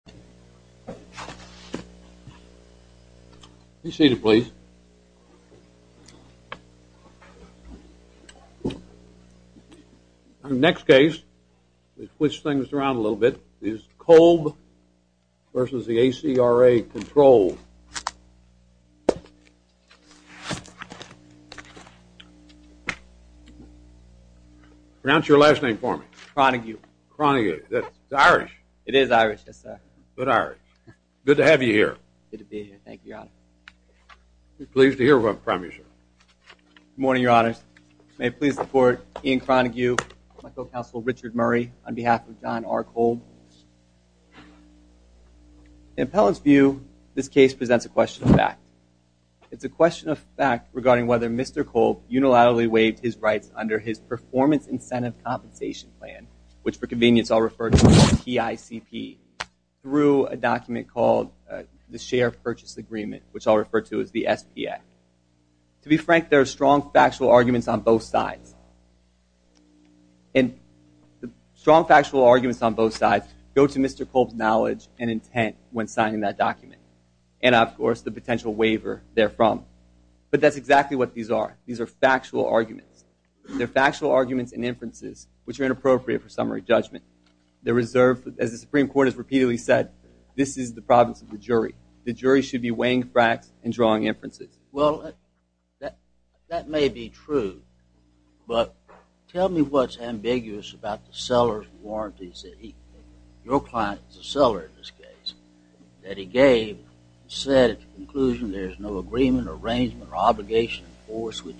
Kolb, Jr. v. ACRA Control, Ltd. Kolb, Jr. v. ACRA Control, Ltd. It's a question of fact regarding whether Mr. Kolb unilaterally waived his rights under his Performance Incentive Compensation Plan, which for convenience I'll refer to as PICP, through a document called the Share Purchase Agreement, which I'll refer to as the SPA. To be frank, there are strong factual arguments on both sides. And the strong factual arguments on both sides go to Mr. Kolb's knowledge and intent when signing that document. And, of course, the potential waiver therefrom. But that's exactly what these are. These are factual arguments. They're factual arguments and inferences, which are inappropriate for summary judgment. They're reserved, as the Supreme Court has repeatedly said, this is the province of the jury. The jury should be weighing facts and drawing inferences. Well, that may be true. But tell me what's ambiguous about the seller's warranties. Your client is a seller in this case. That he gave, said at the conclusion there is no agreement or arrangement or obligation to enforce which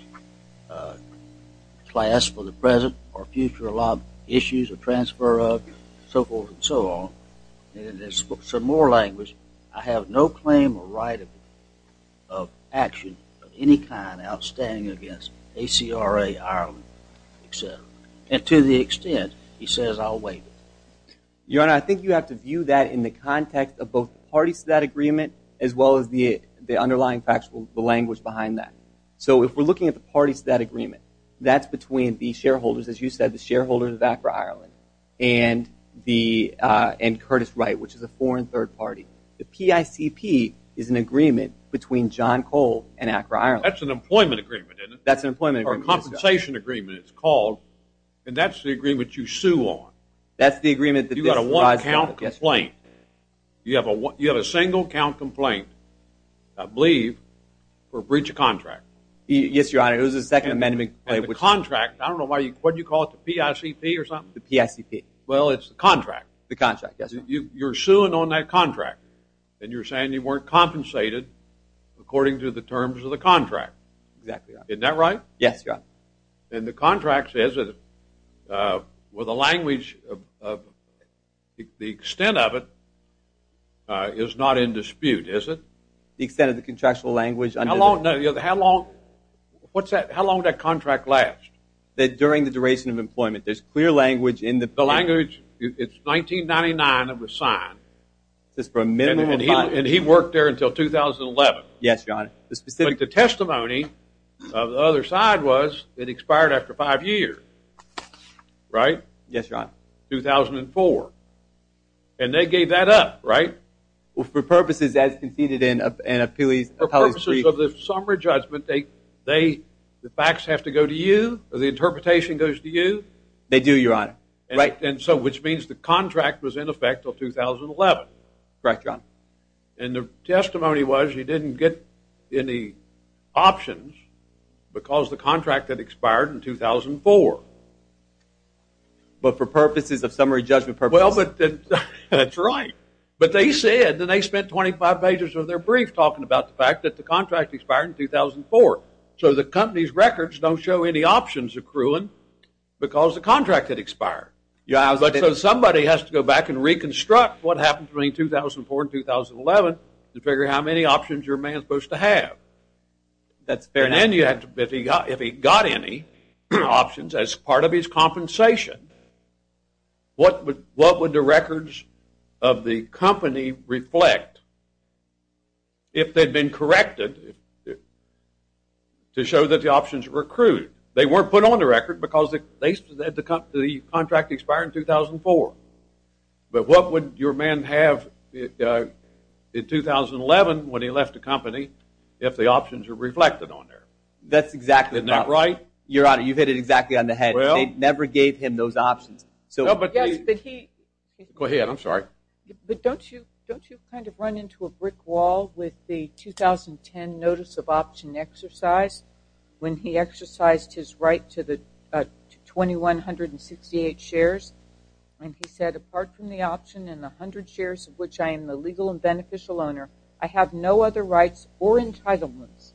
class for the present or future issues or transfer of, so forth and so on. And in some more language, I have no claim or right of action of any kind outstanding against ACRA, Ireland, etc. And to the extent, he says, I'll waive it. Your Honor, I think you have to view that in the context of both the parties to that agreement as well as the underlying factual language behind that. So if we're looking at the parties to that agreement, that's between the shareholders, as you said, the shareholders of ACRA Ireland and Curtis Wright, which is a foreign third party. The PICP is an agreement between John Kolb and ACRA Ireland. That's an employment agreement, isn't it? That's an employment agreement. It's a compensation agreement, it's called. And that's the agreement you sue on. That's the agreement. You got a one-count complaint. You have a single-count complaint, I believe, for breach of contract. Yes, Your Honor. It was a second amendment complaint. And the contract, I don't know why, what do you call it, the PICP or something? The PICP. Well, it's the contract. The contract, yes, Your Honor. You're suing on that contract. And you're saying you weren't compensated according to the terms of the contract. Exactly, Your Honor. Isn't that right? Yes, Your Honor. And the contract says that, well, the language, the extent of it is not in dispute, is it? The extent of the contractual language. How long, what's that, how long did that contract last? During the duration of employment. There's clear language in the PICP. The language, it's 1999 it was signed. Just for a minimum of time. And he worked there until 2011. Yes, Your Honor. But the testimony of the other side was it expired after five years, right? Yes, Your Honor. 2004. And they gave that up, right? Well, for purposes as conceded in an appellee's brief. For purposes of the summary judgment, the facts have to go to you or the interpretation goes to you? They do, Your Honor. Right. Correct, Your Honor. And the testimony was he didn't get any options because the contract had expired in 2004. But for purposes of summary judgment purposes. Well, that's right. But they said that they spent 25 pages of their brief talking about the fact that the contract expired in 2004. So the company's records don't show any options accruing because the contract had expired. Somebody has to go back and reconstruct what happened between 2004 and 2011 to figure out how many options your man is supposed to have. That's fair. And if he got any options as part of his compensation, what would the records of the company reflect if they'd been corrected to show that the options were accrued? They weren't put on the record because the contract expired in 2004. But what would your man have in 2011 when he left the company if the options were reflected on there? That's exactly right. Isn't that right? Your Honor, you hit it exactly on the head. They never gave him those options. Go ahead, I'm sorry. But don't you kind of run into a brick wall with the 2010 notice of option exercise when he exercised his right to the 2,168 shares? And he said, apart from the option and the 100 shares of which I am the legal and beneficial owner, I have no other rights or entitlements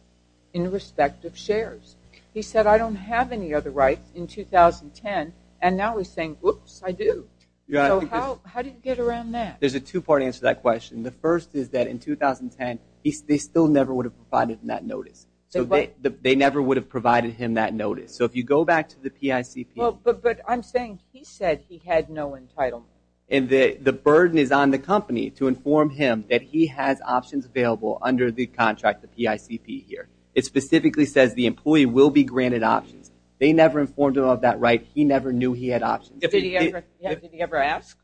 in respect of shares. He said, I don't have any other rights in 2010. And now he's saying, whoops, I do. So how did he get around that? There's a two-part answer to that question. The first is that in 2010, they still never would have provided him that notice. They never would have provided him that notice. So if you go back to the PICP. But I'm saying he said he had no entitlement. And the burden is on the company to inform him that he has options available under the contract, the PICP here. It specifically says the employee will be granted options. They never informed him of that right. He never knew he had options. Did he ever ask?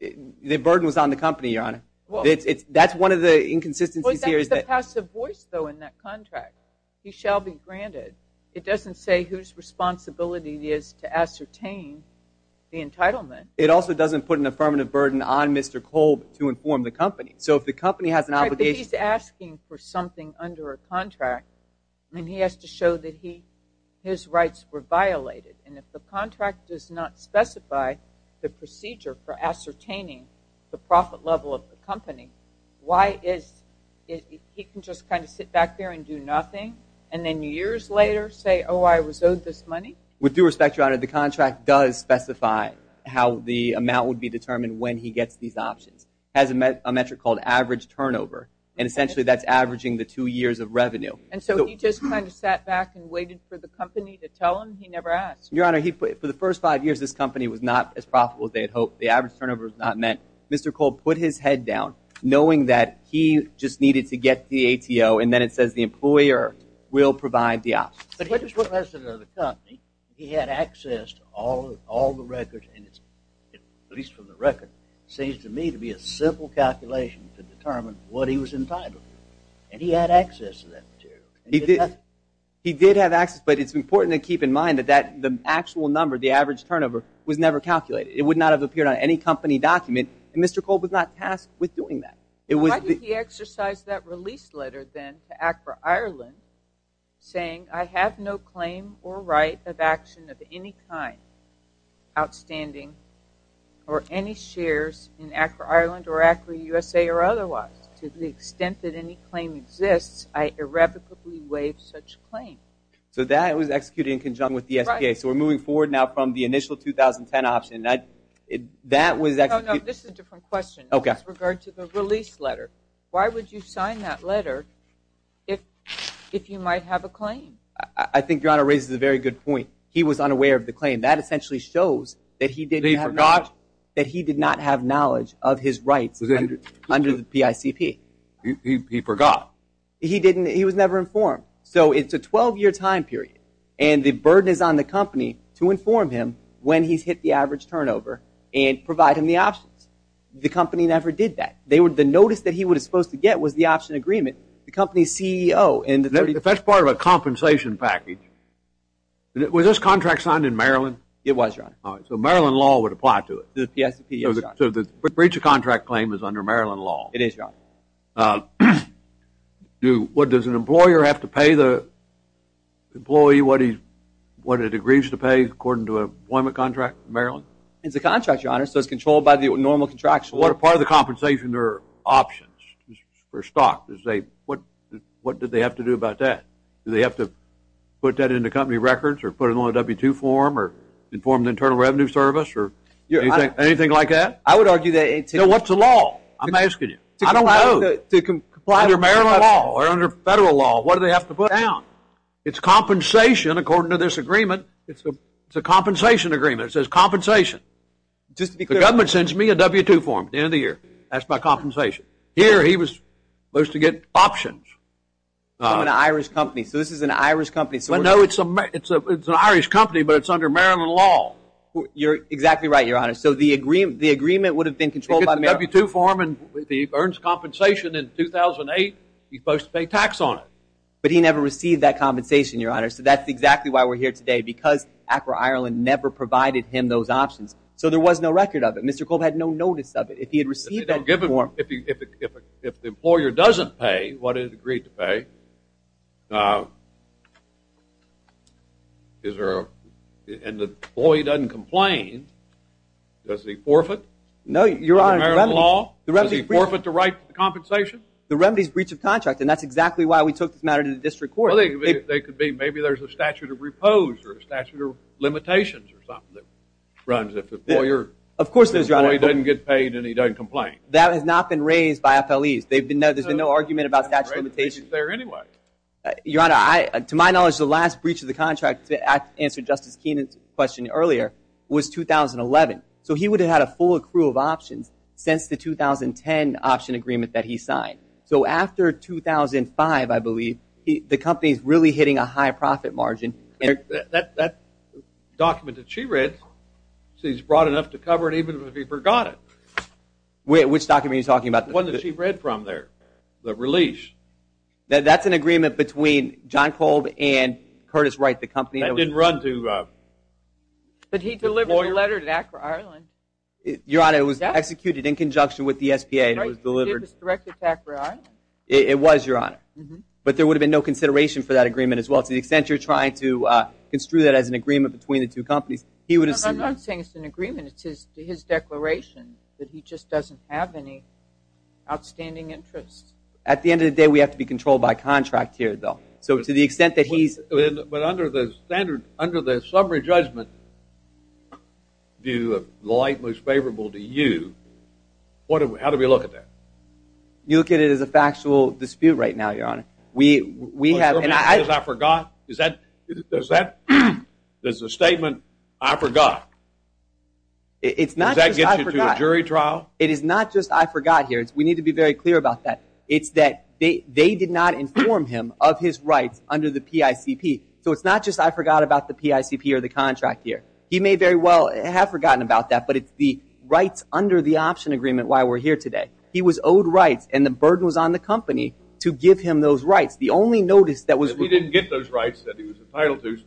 The burden was on the company, Your Honor. That's one of the inconsistencies here. There's a passive voice, though, in that contract. He shall be granted. It doesn't say whose responsibility it is to ascertain the entitlement. It also doesn't put an affirmative burden on Mr. Kolb to inform the company. So if the company has an obligation. Right, but he's asking for something under a contract. And he has to show that his rights were violated. And if the contract does not specify the procedure for ascertaining the profit level of the company, why is it he can just kind of sit back there and do nothing and then years later say, oh, I was owed this money? With due respect, Your Honor, the contract does specify how the amount would be determined when he gets these options. It has a metric called average turnover. And essentially that's averaging the two years of revenue. And so he just kind of sat back and waited for the company to tell him? He never asked? Your Honor, for the first five years, this company was not as profitable as they had hoped. The average turnover was not met. Mr. Kolb put his head down knowing that he just needed to get the ATO. And then it says the employer will provide the options. But he had access to all the records, at least from the record. It seems to me to be a simple calculation to determine what he was entitled to. And he had access to that material. He did. He did have access. But it's important to keep in mind that the actual number, the average turnover, was never calculated. It would not have appeared on any company document. And Mr. Kolb was not tasked with doing that. Why did he exercise that release letter then to ACRA Ireland saying, I have no claim or right of action of any kind, outstanding, or any shares in ACRA Ireland or ACRA USA or otherwise. To the extent that any claim exists, I irrevocably waive such claim. So that was executed in conjunction with the SBA. So we're moving forward now from the initial 2010 option. This is a different question with regard to the release letter. Why would you sign that letter if you might have a claim? I think Your Honor raises a very good point. He was unaware of the claim. That essentially shows that he did not have knowledge of his rights under the PICP. He forgot. He was never informed. So it's a 12-year time period. And the burden is on the company to inform him when he's hit the average turnover and provide him the options. The company never did that. The notice that he was supposed to get was the option agreement. The company's CEO. That's part of a compensation package. Was this contract signed in Maryland? It was, Your Honor. So Maryland law would apply to it. The breach of contract claim is under Maryland law. It is, Your Honor. What, does an employer have to pay the employee what it agrees to pay according to an employment contract in Maryland? It's a contract, Your Honor. So it's controlled by the normal contractual. What part of the compensation are options for stock? What did they have to do about that? Do they have to put that in the company records or put it on a W-2 form or inform the Internal Revenue Service or anything like that? I would argue that it's... So what's the law? I'm asking you. I don't know. Under Maryland law or under federal law, what do they have to put down? It's compensation according to this agreement. It's a compensation agreement. It says compensation. The government sends me a W-2 form at the end of the year. That's my compensation. Here he was supposed to get options. I'm an Irish company, so this is an Irish company. I know it's an Irish company, but it's under Maryland law. You're exactly right, Your Honor. So the agreement would have been controlled by Maryland. If he gets a W-2 form and he earns compensation in 2008, he's supposed to pay tax on it. But he never received that compensation, Your Honor. So that's exactly why we're here today, because ACRA Ireland never provided him those options. So there was no record of it. Mr. Kolb had no notice of it. If he had received that form... If the employer doesn't pay what it agreed to pay, and the employee doesn't complain, does he forfeit under Maryland law? Does he forfeit the right to compensation? The remedy is breach of contract, and that's exactly why we took this matter to the district court. Maybe there's a statute of repose or a statute of limitations or something that runs if the employer... Of course there is, Your Honor. If the employee doesn't get paid and he doesn't complain. That has not been raised by FLEs. There's been no argument about statute of limitations. It's there anyway. Your Honor, to my knowledge, the last breach of the contract, to answer Justice Keenan's question earlier, was 2011. So he would have had a full accrual of options since the 2010 option agreement that he signed. So after 2005, I believe, the company's really hitting a high profit margin. That document that she read, she's broad enough to cover it even if he forgot it. Which document are you talking about? The one that she read from there, the release. That's an agreement between John Kolb and Curtis Wright, the company that was... That didn't run to... But he delivered the letter to ACRA Ireland. Your Honor, it was executed in conjunction with the SPA. It was directed to ACRA Ireland. It was, Your Honor. But there would have been no consideration for that agreement as well. To the extent you're trying to construe that as an agreement between the two companies, he would have... I'm not saying it's an agreement. It's his declaration that he just doesn't have any outstanding interest. At the end of the day, we have to be controlled by contract here, though. So to the extent that he's... But under the summary judgment view of the light most favorable to you, how do we look at that? What you're saying is I forgot? There's a statement, I forgot. Does that get you to a jury trial? It is not just I forgot here. We need to be very clear about that. It's that they did not inform him of his rights under the PICP. So it's not just I forgot about the PICP or the contract here. He may very well have forgotten about that, but it's the rights under the option agreement why we're here today. He was owed rights, and the burden was on the company to give him those rights. The only notice that was... If he didn't get those rights that he was entitled to,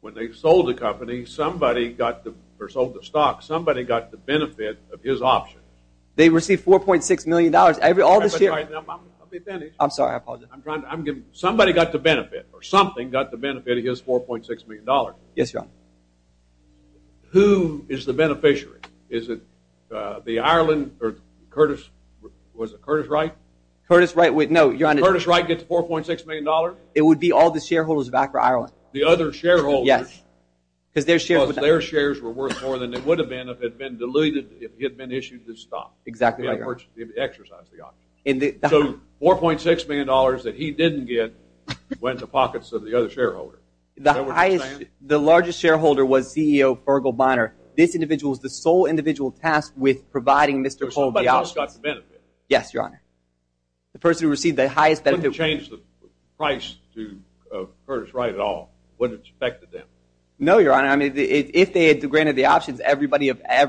when they sold the company, somebody got the... or sold the stock, somebody got the benefit of his option. They received $4.6 million. All this year... I'll be finished. I'm sorry. I apologize. I'm trying to... Somebody got the benefit or something got the benefit of his $4.6 million. Yes, Your Honor. Who is the beneficiary? Is it the Ireland or Curtis? Was it Curtis Wright? Curtis Wright. No, Your Honor. Curtis Wright gets $4.6 million? It would be all the shareholders back for Ireland. The other shareholders? Yes. Because their shares were worth more than it would have been if it had been diluted, if he had been issued this stock. Exactly, Your Honor. If he had exercised the option. So $4.6 million that he didn't get went to pockets of the other shareholders. The largest shareholder was CEO Fergal Bonner. This individual is the sole individual tasked with providing Mr. Cole the options. So somebody else got the benefit? Yes, Your Honor. The person who received the highest benefit... Wouldn't it change the price to Curtis Wright at all? Wouldn't it affect them? No, Your Honor. If they had granted the options, every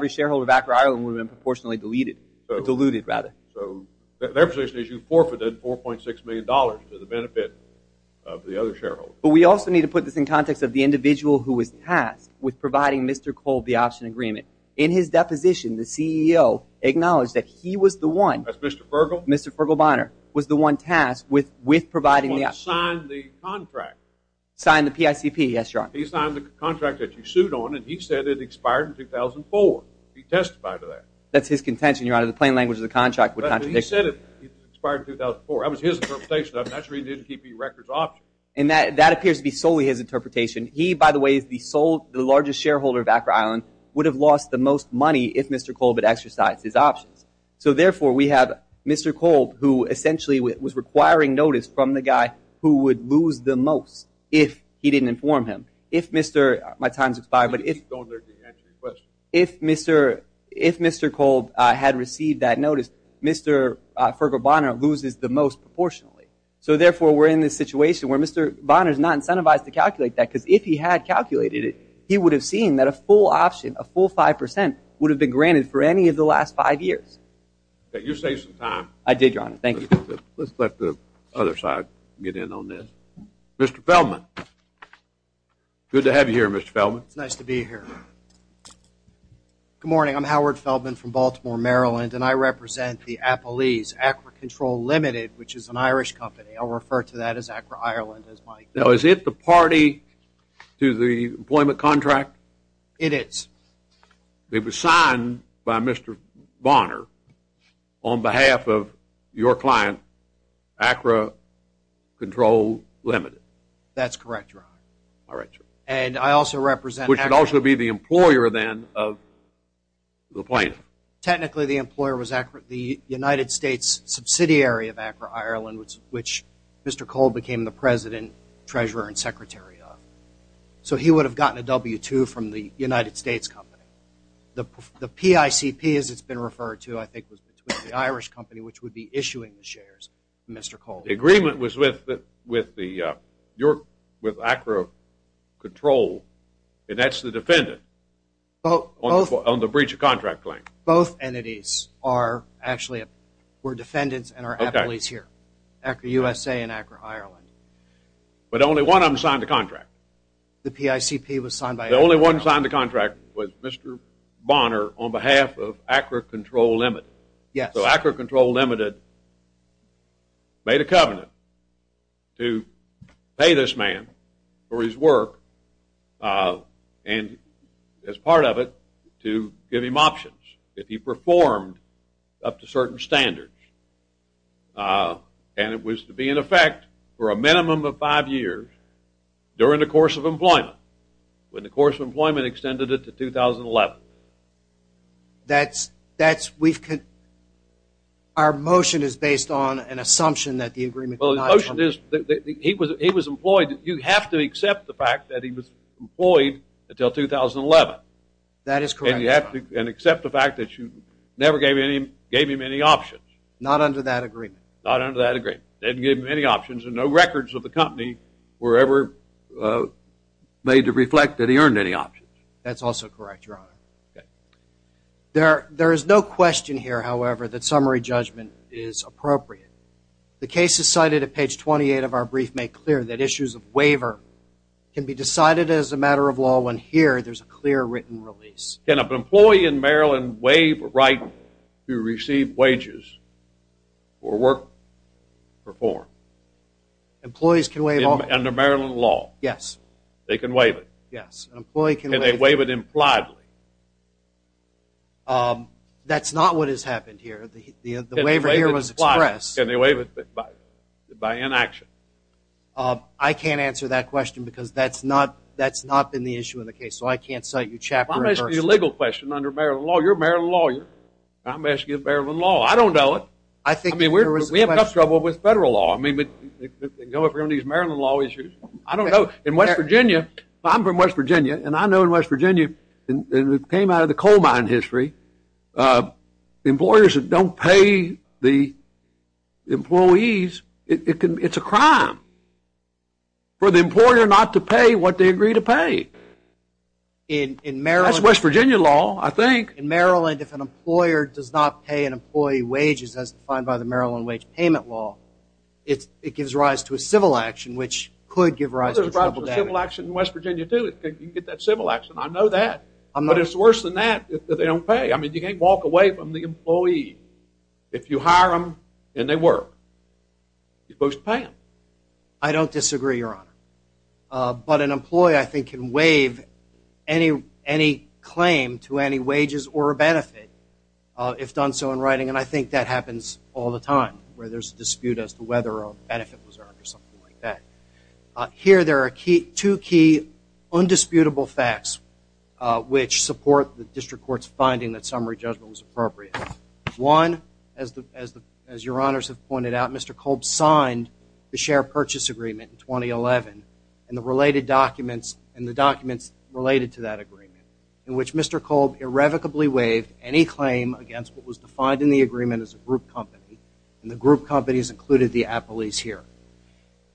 shareholder back for Ireland would have been proportionally diluted. So their position is you forfeited $4.6 million to the benefit of the other shareholders. But we also need to put this in context of the individual who was tasked with providing Mr. Cole the option agreement. In his deposition, the CEO acknowledged that he was the one... That's Mr. Fergal? Mr. Fergal Bonner was the one tasked with providing the option. He was the one who signed the contract. Signed the PICP, yes, Your Honor. He signed the contract that you sued on and he said it expired in 2004. He testified to that. That's his contention, Your Honor. The plain language of the contract would contradict... He said it expired in 2004. That was his interpretation of it. That's where he didn't keep the records option. And that appears to be solely his interpretation. He, by the way, is the largest shareholder back for Ireland, would have lost the most money if Mr. Cole had exercised his options. So, therefore, we have Mr. Cole who essentially was requiring notice from the guy who would lose the most if he didn't inform him. If Mr.... My time's expired, but if... Don't urge me to answer your question. If Mr. Cole had received that notice, Mr. Fergal Bonner loses the most proportionally. So, therefore, we're in this situation where Mr. Bonner's not incentivized to calculate that because if he had calculated it, he would have seen that a full option, a full 5%, would have been granted for any of the last five years. You saved some time. I did, Your Honor. Thank you. Let's let the other side get in on this. Mr. Feldman. Good to have you here, Mr. Feldman. It's nice to be here. Good morning. I'm Howard Feldman from Baltimore, Maryland, and I represent the Appalese Acra Control Limited, which is an Irish company. I'll refer to that as Acra Ireland as my... Now, is it the party to the employment contract? It is. It was signed by Mr. Bonner on behalf of your client, Acra Control Limited. That's correct, Your Honor. All right, sir. And I also represent... Which would also be the employer, then, of the plaintiff. Technically, the employer was the United States subsidiary of Acra Ireland, which Mr. Cole became the president, treasurer, and secretary of. So he would have gotten a W-2 from the United States company. The PICP, as it's been referred to, I think, was between the Irish company, which would be issuing the shares to Mr. Cole. The agreement was with Acra Control, and that's the defendant, on the breach of contract claim. Both entities are actually defendants and are Appalese here, Acra USA and Acra Ireland. But only one of them signed the contract. The PICP was signed by... The only one who signed the contract was Mr. Bonner on behalf of Acra Control Limited. So Acra Control Limited made a covenant to pay this man for his work, and as part of it, to give him options if he performed up to certain standards. And it was to be in effect for a minimum of five years during the course of employment, when the course of employment extended it to 2011. That's... Our motion is based on an assumption that the agreement... Our motion is that he was employed. You have to accept the fact that he was employed until 2011. That is correct, Your Honor. And you have to accept the fact that you never gave him any options. Not under that agreement. Not under that agreement. Didn't give him any options, and no records of the company were ever made to reflect that he earned any options. That's also correct, Your Honor. There is no question here, however, that summary judgment is appropriate. The case is cited at page 28 of our brief, made clear that issues of waiver can be decided as a matter of law, when here there's a clear written release. Can an employee in Maryland waive a right to receive wages for work performed? Employees can waive all... Under Maryland law? Yes. They can waive it? Yes. Can they waive it impliedly? That's not what has happened here. The waiver here was expressed. Can they waive it by inaction? I can't answer that question because that's not been the issue in the case, so I can't cite you chapter and verse. I'm asking you a legal question under Maryland law. You're a Maryland lawyer. I'm asking you about Maryland law. I don't know it. I think there was a question... I mean, we have enough trouble with federal law. I mean, they go over these Maryland law issues. I don't know. In West Virginia, I'm from West Virginia, and I know in West Virginia, and it came out of the coal mine history, employers don't pay the employees. It's a crime for the employer not to pay what they agree to pay. In Maryland... That's West Virginia law, I think. In Maryland, if an employer does not pay an employee wages as defined by the Maryland Wage Payment Law, it gives rise to a civil action, which could give rise to... Well, there's a rise to a civil action in West Virginia, too. You can get that civil action. I know that. But it's worse than that if they don't pay. I mean, you can't walk away from the employee. If you hire them and they work, you're supposed to pay them. I don't disagree, Your Honor. But an employee, I think, can waive any claim to any wages or a benefit if done so in writing, and I think that happens all the time where there's a dispute as to whether a benefit was earned or something like that. Here there are two key undisputable facts which support the district court's finding that summary judgment was appropriate. One, as Your Honors have pointed out, Mr. Kolb signed the Share Purchase Agreement in 2011 and the documents related to that agreement in which Mr. Kolb irrevocably waived any claim against what was defined in the agreement as a group company, and the group companies included the appellees here.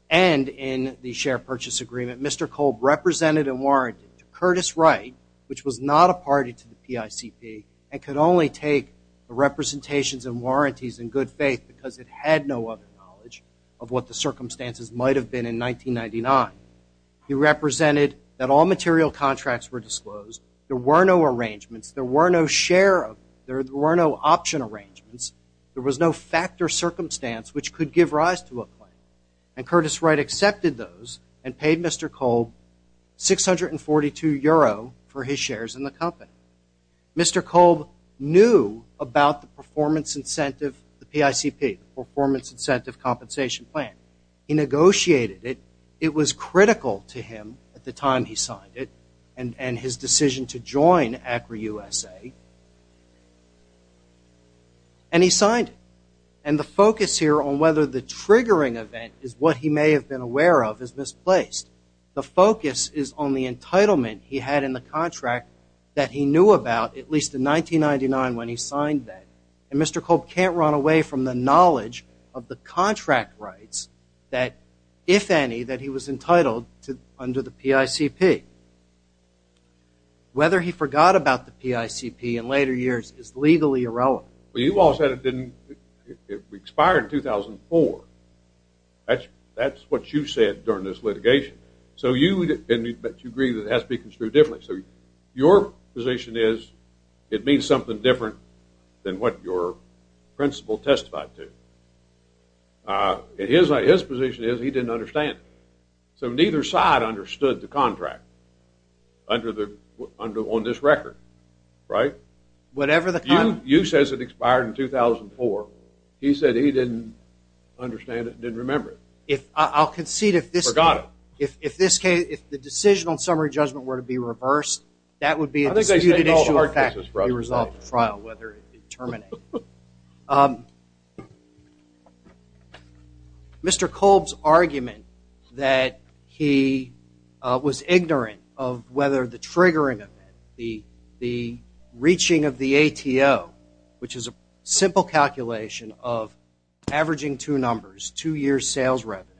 And in the Share Purchase Agreement, Mr. Kolb represented and warranted to Curtis Wright, which was not a party to the PICP, and could only take the representations and warranties in good faith because it had no other knowledge of what the circumstances might have been in 1999. He represented that all material contracts were disclosed. There were no arrangements. There were no share of them. There were no option arrangements. There was no factor circumstance which could give rise to a claim, and Curtis Wright accepted those and paid Mr. Kolb 642 euro for his shares in the company. Mr. Kolb knew about the performance incentive, the PICP, the Performance Incentive Compensation Plan. He negotiated it. It was critical to him at the time he signed it and his decision to join Acura USA. And he signed it. And the focus here on whether the triggering event is what he may have been aware of is misplaced. The focus is on the entitlement he had in the contract that he knew about, at least in 1999 when he signed that. And Mr. Kolb can't run away from the knowledge of the contract rights that, if any, that he was entitled under the PICP. Whether he forgot about the PICP in later years is legally irrelevant. But you all said it expired in 2004. That's what you said during this litigation. But you agree that it has to be construed differently. So your position is it means something different than what your principal testified to. And his position is he didn't understand it. So neither side understood the contract on this record, right? Whatever the contract. You said it expired in 2004. He said he didn't understand it and didn't remember it. I'll concede if this case, if the decision on summary judgment were to be reversed, that would be a disputed issue. It's hard to actually resolve the trial, whether it be terminated. Mr. Kolb's argument that he was ignorant of whether the triggering of it, the reaching of the ATO, which is a simple calculation of averaging two numbers, two years' sales revenue,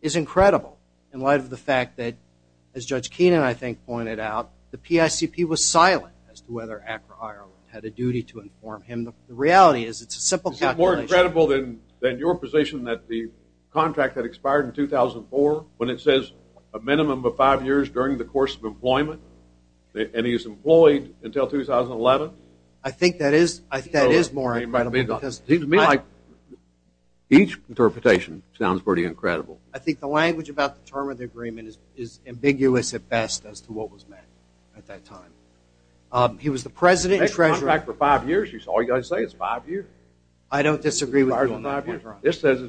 is incredible in light of the fact that, as Judge Keenan, I think, pointed out, the PICP was silent as to whether ACRA Ireland had a duty to inform him. The reality is it's a simple calculation. Is it more incredible than your position that the contract had expired in 2004 when it says a minimum of five years during the course of employment and he is employed until 2011? I think that is more incredible. It seems to me like each interpretation sounds pretty incredible. I think the language about the term of the agreement is ambiguous at best as to what was meant at that time. He was the president and treasurer. He had a contract for five years. All you've got to say is five years. I don't disagree with you on that point. This says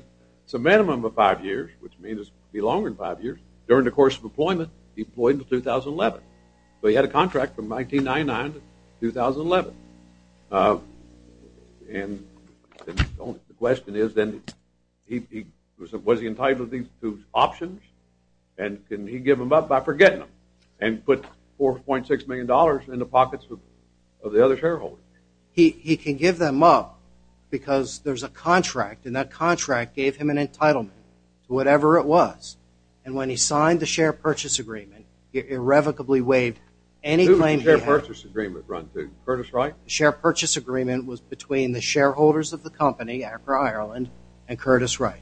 it's a minimum of five years, which means it will be longer than five years, during the course of employment, employed until 2011. So he had a contract from 1999 to 2011. And the question is then was he entitled to these two options and can he give them up by forgetting them and put $4.6 million in the pockets of the other shareholders? He can give them up because there's a contract, and that contract gave him an entitlement to whatever it was. And when he signed the share purchase agreement, he irrevocably waived any claim he had. Curtis Wright? The share purchase agreement was between the shareholders of the company, Acra Ireland, and Curtis Wright.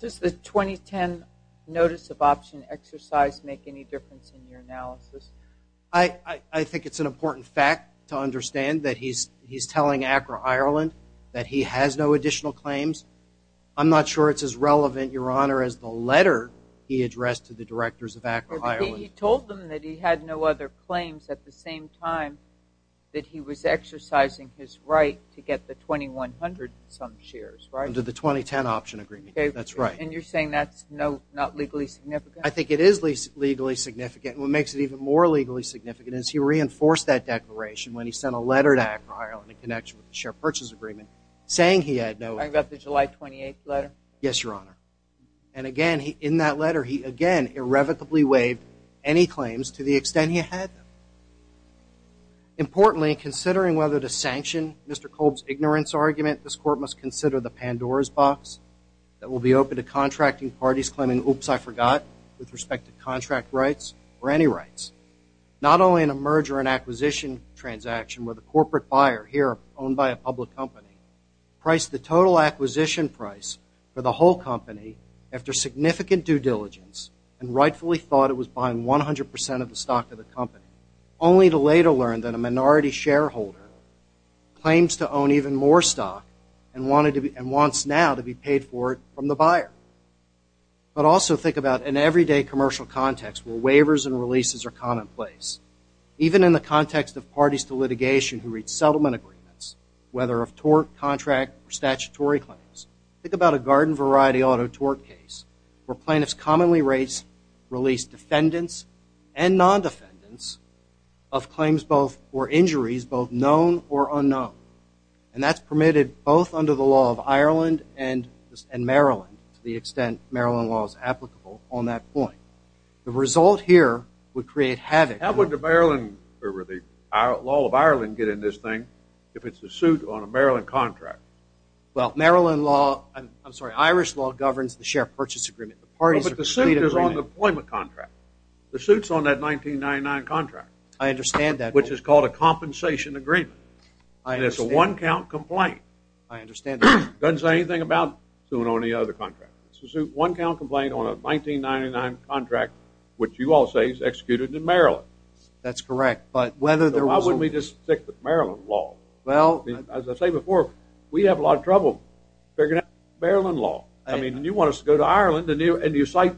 Does the 2010 notice of option exercise make any difference in your analysis? I think it's an important fact to understand that he's telling Acra Ireland that he has no additional claims. I'm not sure it's as relevant, Your Honor, as the letter he addressed to the directors of Acra Ireland. He told them that he had no other claims at the same time that he was exercising his right to get the 2,100-some shares, right? Under the 2010 option agreement, that's right. And you're saying that's not legally significant? I think it is legally significant. What makes it even more legally significant is he reinforced that declaration when he sent a letter to Acra Ireland in connection with the share purchase agreement saying he had no other claims. I got the July 28th letter? Yes, Your Honor. And, again, in that letter, he, again, irrevocably waived any claims to the extent he had them. Importantly, considering whether to sanction Mr. Kolb's ignorance argument, this court must consider the Pandora's box that will be open to contracting parties claiming, oops, I forgot, with respect to contract rights or any rights, not only in a merger and acquisition transaction where the corporate buyer, here owned by a public company, priced the total acquisition price for the whole company after significant due diligence and rightfully thought it was buying 100% of the stock of the company, only to later learn that a minority shareholder claims to own even more stock and wants now to be paid for it from the buyer. But also think about an everyday commercial context where waivers and releases are commonplace. Even in the context of parties to litigation who reach settlement agreements, whether of tort, contract, or statutory claims. Think about a garden variety auto tort case where plaintiffs commonly release defendants and non-defendants of claims or injuries both known or unknown. And that's permitted both under the law of Ireland and Maryland to the extent Maryland law is applicable on that point. The result here would create havoc. How would the law of Ireland get in this thing if it's a suit on a Maryland contract? Well, Irish law governs the share purchase agreement. But the suit is on the employment contract. The suit's on that 1999 contract. I understand that. Which is called a compensation agreement. And it's a one-count complaint. I understand that. Doesn't say anything about suing on any other contract. It's a one-count complaint on a 1999 contract which you all say is executed in Maryland. That's correct. So why wouldn't we just stick with Maryland law? As I said before, we have a lot of trouble figuring out Maryland law. I mean, you want us to go to Ireland and you cite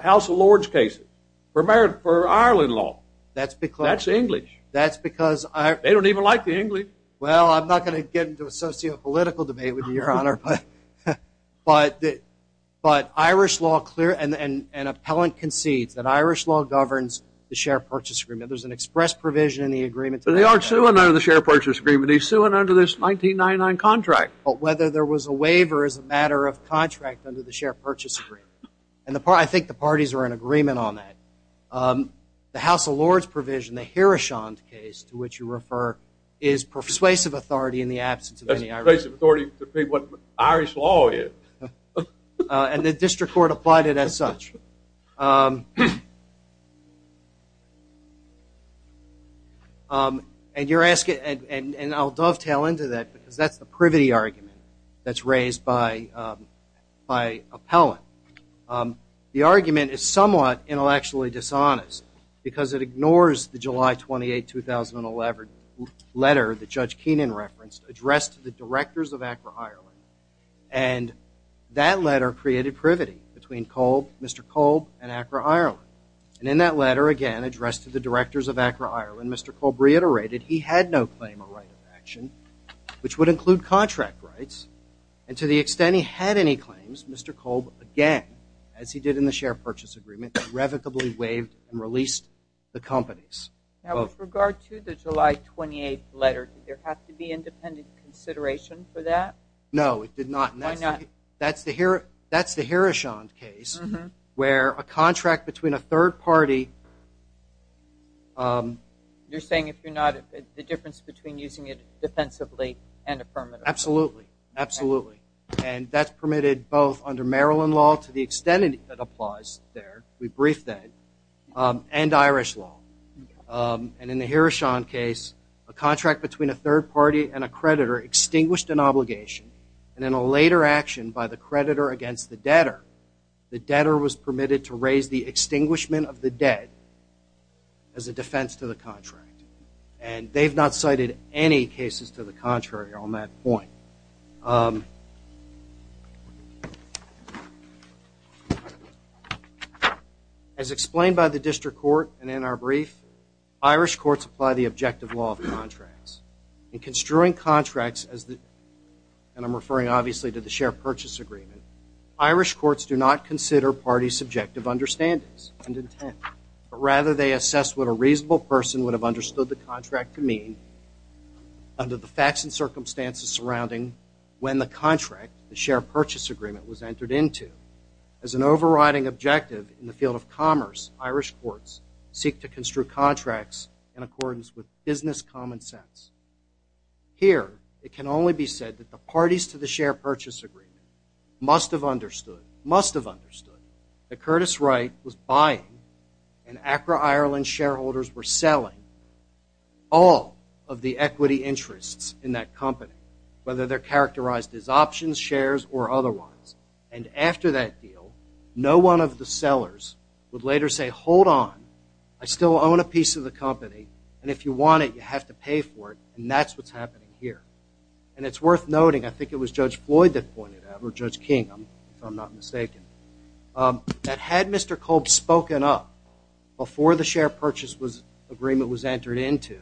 House of Lords cases for Ireland law. That's English. They don't even like the English. Well, I'm not going to get into a socio-political debate with you, Your Honor. But Irish law clear and an appellant concedes that Irish law governs the share purchase agreement. There's an express provision in the agreement. But they are suing under the share purchase agreement. He's suing under this 1999 contract. But whether there was a waiver is a matter of contract under the share purchase agreement. And I think the parties are in agreement on that. The House of Lords provision, the Hiroshant case to which you refer, is persuasive authority in the absence of any Irish law. It's persuasive authority to say what Irish law is. And the district court applied it as such. And you're asking, and I'll dovetail into that, because that's the privity argument that's raised by appellant. The argument is somewhat intellectually dishonest because it ignores the July 28, 2011 letter that Judge Keenan referenced addressed to the directors of Accra, Ireland. And that letter created privity between Mr. Kolb and Accra, Ireland. And in that letter, again, addressed to the directors of Accra, Ireland, Mr. Kolb reiterated he had no claim of right of action, which would include contract rights. And to the extent he had any claims, Mr. Kolb, again, as he did in the share purchase agreement, irrevocably waived and released the companies. Now, with regard to the July 28 letter, did there have to be independent consideration for that? No, it did not. Why not? That's the Hiroshant case where a contract between a third party. You're saying if you're not, the difference between using it defensively and affirmatively. Absolutely, absolutely. And that's permitted both under Maryland law, to the extent it applies there, we briefed that, and Irish law. And in the Hiroshant case, a contract between a third party and a creditor extinguished an obligation. And in a later action by the creditor against the debtor, the debtor was permitted to raise the extinguishment of the debt as a defense to the contract. And they've not cited any cases to the contrary on that point. As explained by the district court and in our brief, Irish courts apply the objective law of contracts. In construing contracts, and I'm referring obviously to the share purchase agreement, Irish courts do not consider parties' subjective understandings and intent, but rather they assess what a reasonable person would have understood the contract to mean under the facts and circumstances surrounding when the contract, the share purchase agreement, was entered into. As an overriding objective in the field of commerce, Irish courts seek to construe contracts in accordance with business common sense. Here, it can only be said that the parties to the share purchase agreement must have understood, must have understood, that Curtis Wright was buying and Acra Ireland shareholders were selling all of the equity interests in that company, whether they're characterized as options, shares, or otherwise. And after that deal, no one of the sellers would later say, hold on, I still own a piece of the company, and if you want it, you have to pay for it, and that's what's happening here. And it's worth noting, I think it was Judge Floyd that pointed out, or Judge King, if I'm not mistaken, that had Mr. Kolb spoken up before the share purchase agreement was entered into,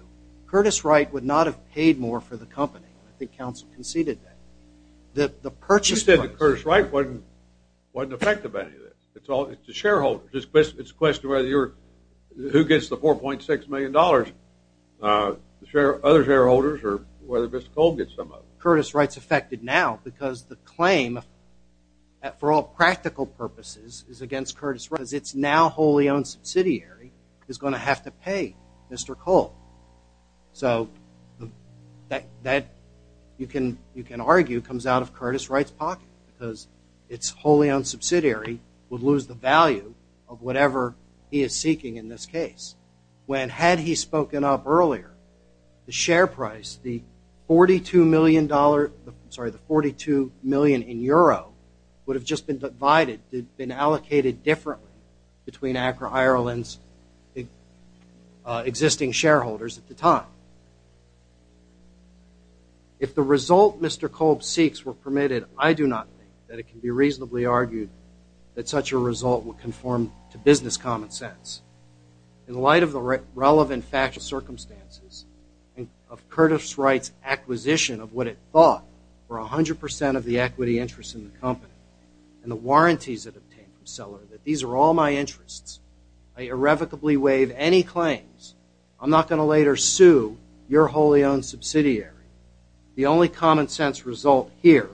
Curtis Wright would not have paid more for the company. I think counsel conceded that. The purchase price. You said that Curtis Wright wasn't effective at any of this. It's shareholders. It's a question of whether you're, who gets the $4.6 million, other shareholders, or whether Mr. Kolb gets some of it. Curtis Wright's affected now because the claim, for all practical purposes, is against Curtis Wright because it's now wholly owned subsidiary is going to have to pay Mr. Kolb. So that, you can argue, comes out of Curtis Wright's pocket because it's wholly owned subsidiary would lose the value of whatever he is seeking in this case. When had he spoken up earlier, the share price, the $42 million, I'm sorry, the $42 million in euro, would have just been divided, been allocated differently between ACRA Ireland's existing shareholders at the time. If the result Mr. Kolb seeks were permitted, I do not think that it can be reasonably argued that such a result would conform to business common sense. In light of the relevant factual circumstances of Curtis Wright's acquisition of what it thought were 100% of the equity interest in the company and the warranties it obtained from Seller, that these are all my interests, I irrevocably waive any claims. I'm not going to later sue your wholly owned subsidiary. The only common sense result here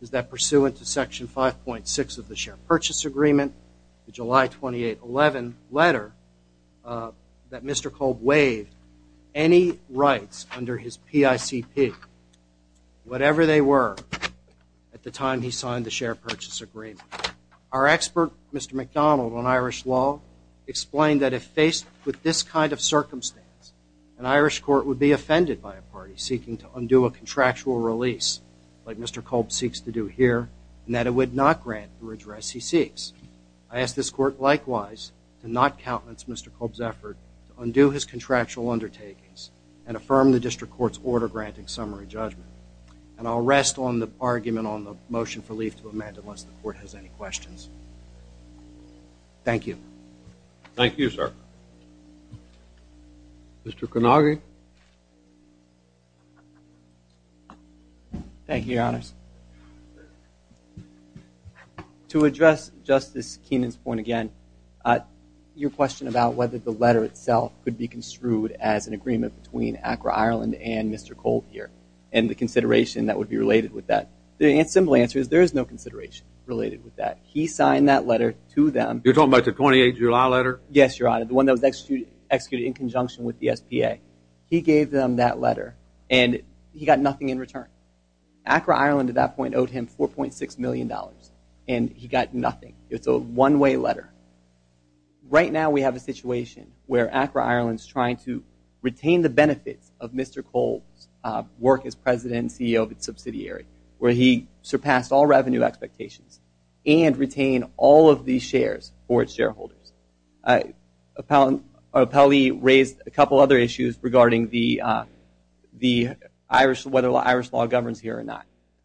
is that pursuant to Section 5.6 of the Share Purchase Agreement, the July 28, 2011 letter, that Mr. Kolb waived any rights under his PICP, whatever they were, at the time he signed the Share Purchase Agreement. Our expert, Mr. MacDonald, on Irish law, explained that if faced with this kind of circumstance, an Irish court would be offended by a party seeking to undo a contractual release, like Mr. Kolb seeks to do here, and that it would not grant the redress he seeks. I ask this court, likewise, to not countenance Mr. Kolb's effort to undo his contractual undertakings and affirm the district court's order granting summary judgment. And I'll rest on the argument on the motion for leave to amend unless the court has any questions. Thank you. Thank you, sir. Mr. Conaghy. Thank you, Your Honors. To address Justice Keenan's point again, your question about whether the letter itself could be construed as an agreement between ACRA Ireland and Mr. Kolb here, and the consideration that would be related with that, the simple answer is there is no consideration related with that. He signed that letter to them. You're talking about the 28th of July letter? Yes, Your Honor, the one that was executed in conjunction with the SPA. He gave them that letter, and he got nothing in return. ACRA Ireland at that point owed him $4.6 million, and he got nothing. It's a one-way letter. Right now we have a situation where ACRA Ireland's trying to retain the benefits of Mr. Kolb's work as president and CEO of its subsidiary, where he surpassed all revenue expectations and retained all of these shares for its shareholders. Appellee raised a couple other issues regarding whether the Irish law governs here or not.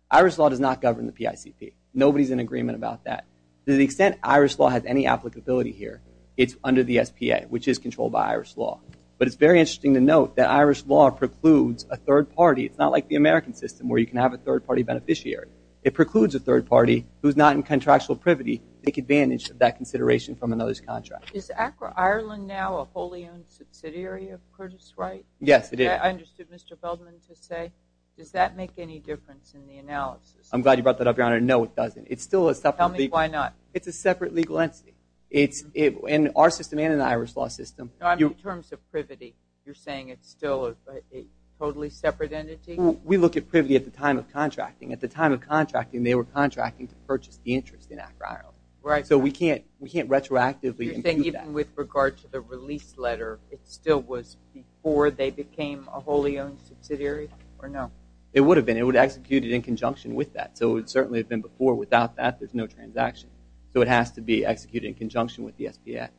Irish law does not govern the PICP. Nobody's in agreement about that. To the extent Irish law has any applicability here, it's under the SPA, which is controlled by Irish law. But it's very interesting to note that Irish law precludes a third party. It's not like the American system where you can have a third-party beneficiary. It precludes a third party who's not in contractual privity to take advantage of that consideration from another's contract. Is ACRA Ireland now a wholly-owned subsidiary of Curtis Wright? Yes, it is. I understood Mr. Feldman to say. Does that make any difference in the analysis? I'm glad you brought that up, Your Honor. No, it doesn't. Tell me why not. It's a separate legal entity. In our system and in the Irish law system... In terms of privity, you're saying it's still a totally separate entity? We look at privity at the time of contracting. At the time of contracting, they were contracting to purchase the interest in ACRA Ireland. So we can't retroactively improve that. You're saying even with regard to the release letter, it still was before they became a wholly-owned subsidiary, or no? It would have been. It would have executed in conjunction with that. So it would certainly have been before. Without that, there's no transaction. So it has to be executed in conjunction with the SPS.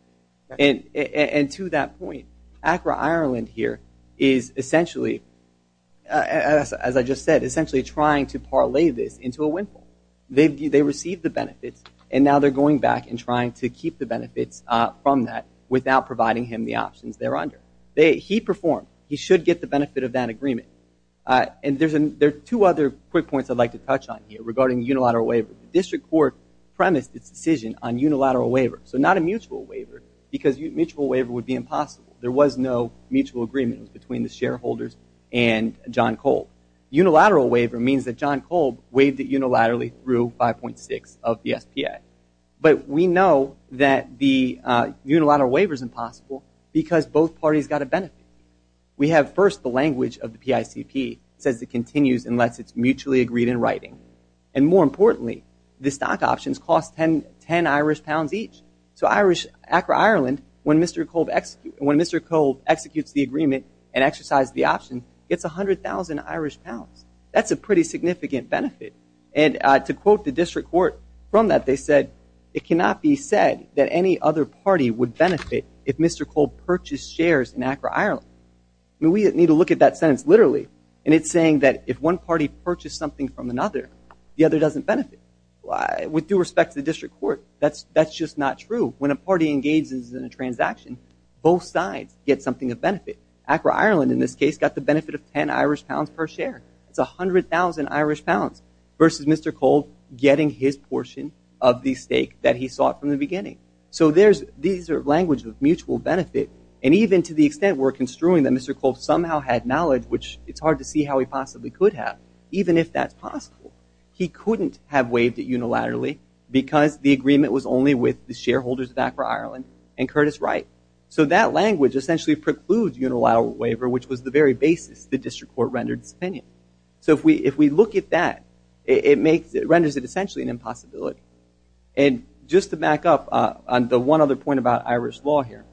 And to that point, ACRA Ireland here is essentially, as I just said, essentially trying to parlay this into a windfall. They received the benefits, and now they're going back and trying to keep the benefits from that without providing him the options they're under. He performed. He should get the benefit of that agreement. And there are two other quick points I'd like to touch on here regarding unilateral waiver. The district court premised its decision on unilateral waiver, so not a mutual waiver, because a mutual waiver would be impossible. There was no mutual agreement between the shareholders and John Kolb. Unilateral waiver means that John Kolb waived it unilaterally through 5.6 of the SPA. But we know that the unilateral waiver is impossible because both parties got a benefit. We have first the language of the PICP. It says it continues unless it's mutually agreed in writing. And more importantly, the stock options cost 10 Irish pounds each. So ACRA Ireland, when Mr. Kolb executes the agreement and exercises the option, gets 100,000 Irish pounds. That's a pretty significant benefit. And to quote the district court from that, they said, it cannot be said that any other party would benefit if Mr. Kolb purchased shares in ACRA Ireland. We need to look at that sentence literally, and it's saying that if one party purchased something from another, the other doesn't benefit. With due respect to the district court, that's just not true. When a party engages in a transaction, both sides get something of benefit. ACRA Ireland, in this case, got the benefit of 10 Irish pounds per share. That's 100,000 Irish pounds versus Mr. Kolb getting his portion of the stake that he sought from the beginning. So these are languages of mutual benefit, and even to the extent we're construing that Mr. Kolb somehow had knowledge, which it's hard to see how he possibly could have, even if that's possible, he couldn't have waived it unilaterally because the agreement was only with the shareholders of ACRA Ireland and Curtis Wright. So that language essentially precludes unilateral waiver, which was the very basis the district court rendered its opinion. So if we look at that, it renders it essentially an impossibility. And just to back up on the one other point about Irish law here,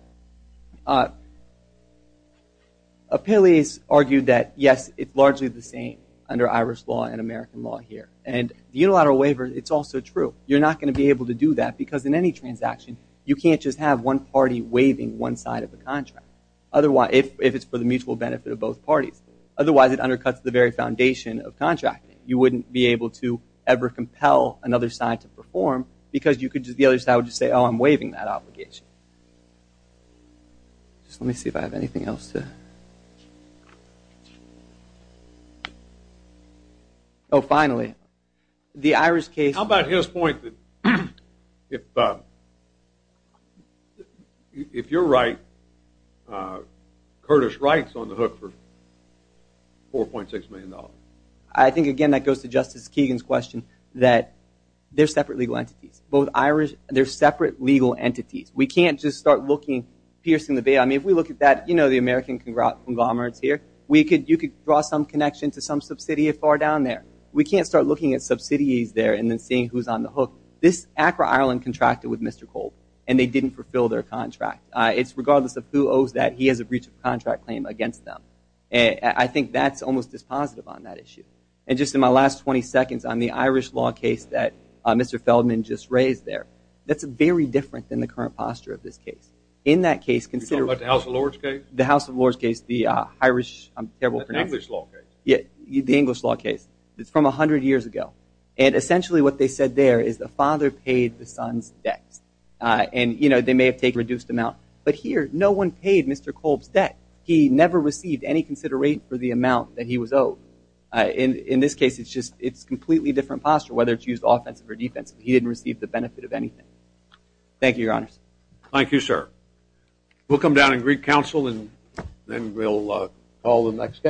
Apelius argued that, yes, it's largely the same under Irish law and American law here. And the unilateral waiver, it's also true. You're not going to be able to do that because in any transaction, you can't just have one party waiving one side of the contract, if it's for the mutual benefit of both parties. Otherwise, it undercuts the very foundation of contracting. Because the other side would just say, oh, I'm waiving that obligation. Just let me see if I have anything else. Oh, finally, the Irish case. How about his point that if you're right, Curtis Wright's on the hook for $4.6 million? I think, again, that goes to Justice Kegan's question that they're separate legal entities. Both Irish, they're separate legal entities. We can't just start looking, piercing the bait. I mean, if we look at that, you know, the American conglomerates here, you could draw some connection to some subsidiary far down there. We can't start looking at subsidiaries there and then seeing who's on the hook. This ACRA Ireland contracted with Mr. Cole, and they didn't fulfill their contract. It's regardless of who owes that, he has a breach of contract claim against them. I think that's almost dispositive on that issue. And just in my last 20 seconds on the Irish law case that Mr. Feldman just raised there, that's very different than the current posture of this case. In that case, consider what the House of Lords case, the Irish, I'm terrible at pronouncing. The English law case. The English law case. It's from 100 years ago. And essentially what they said there is the father paid the son's debts. And, you know, they may have taken a reduced amount. But here, no one paid Mr. Cole's debt. He never received any consideration for the amount that he was owed. In this case, it's completely different posture, whether it's used offensive or defensive. He didn't receive the benefit of anything. Thank you, Your Honors. Thank you, sir. We'll come down and greet counsel, and then we'll call the next case.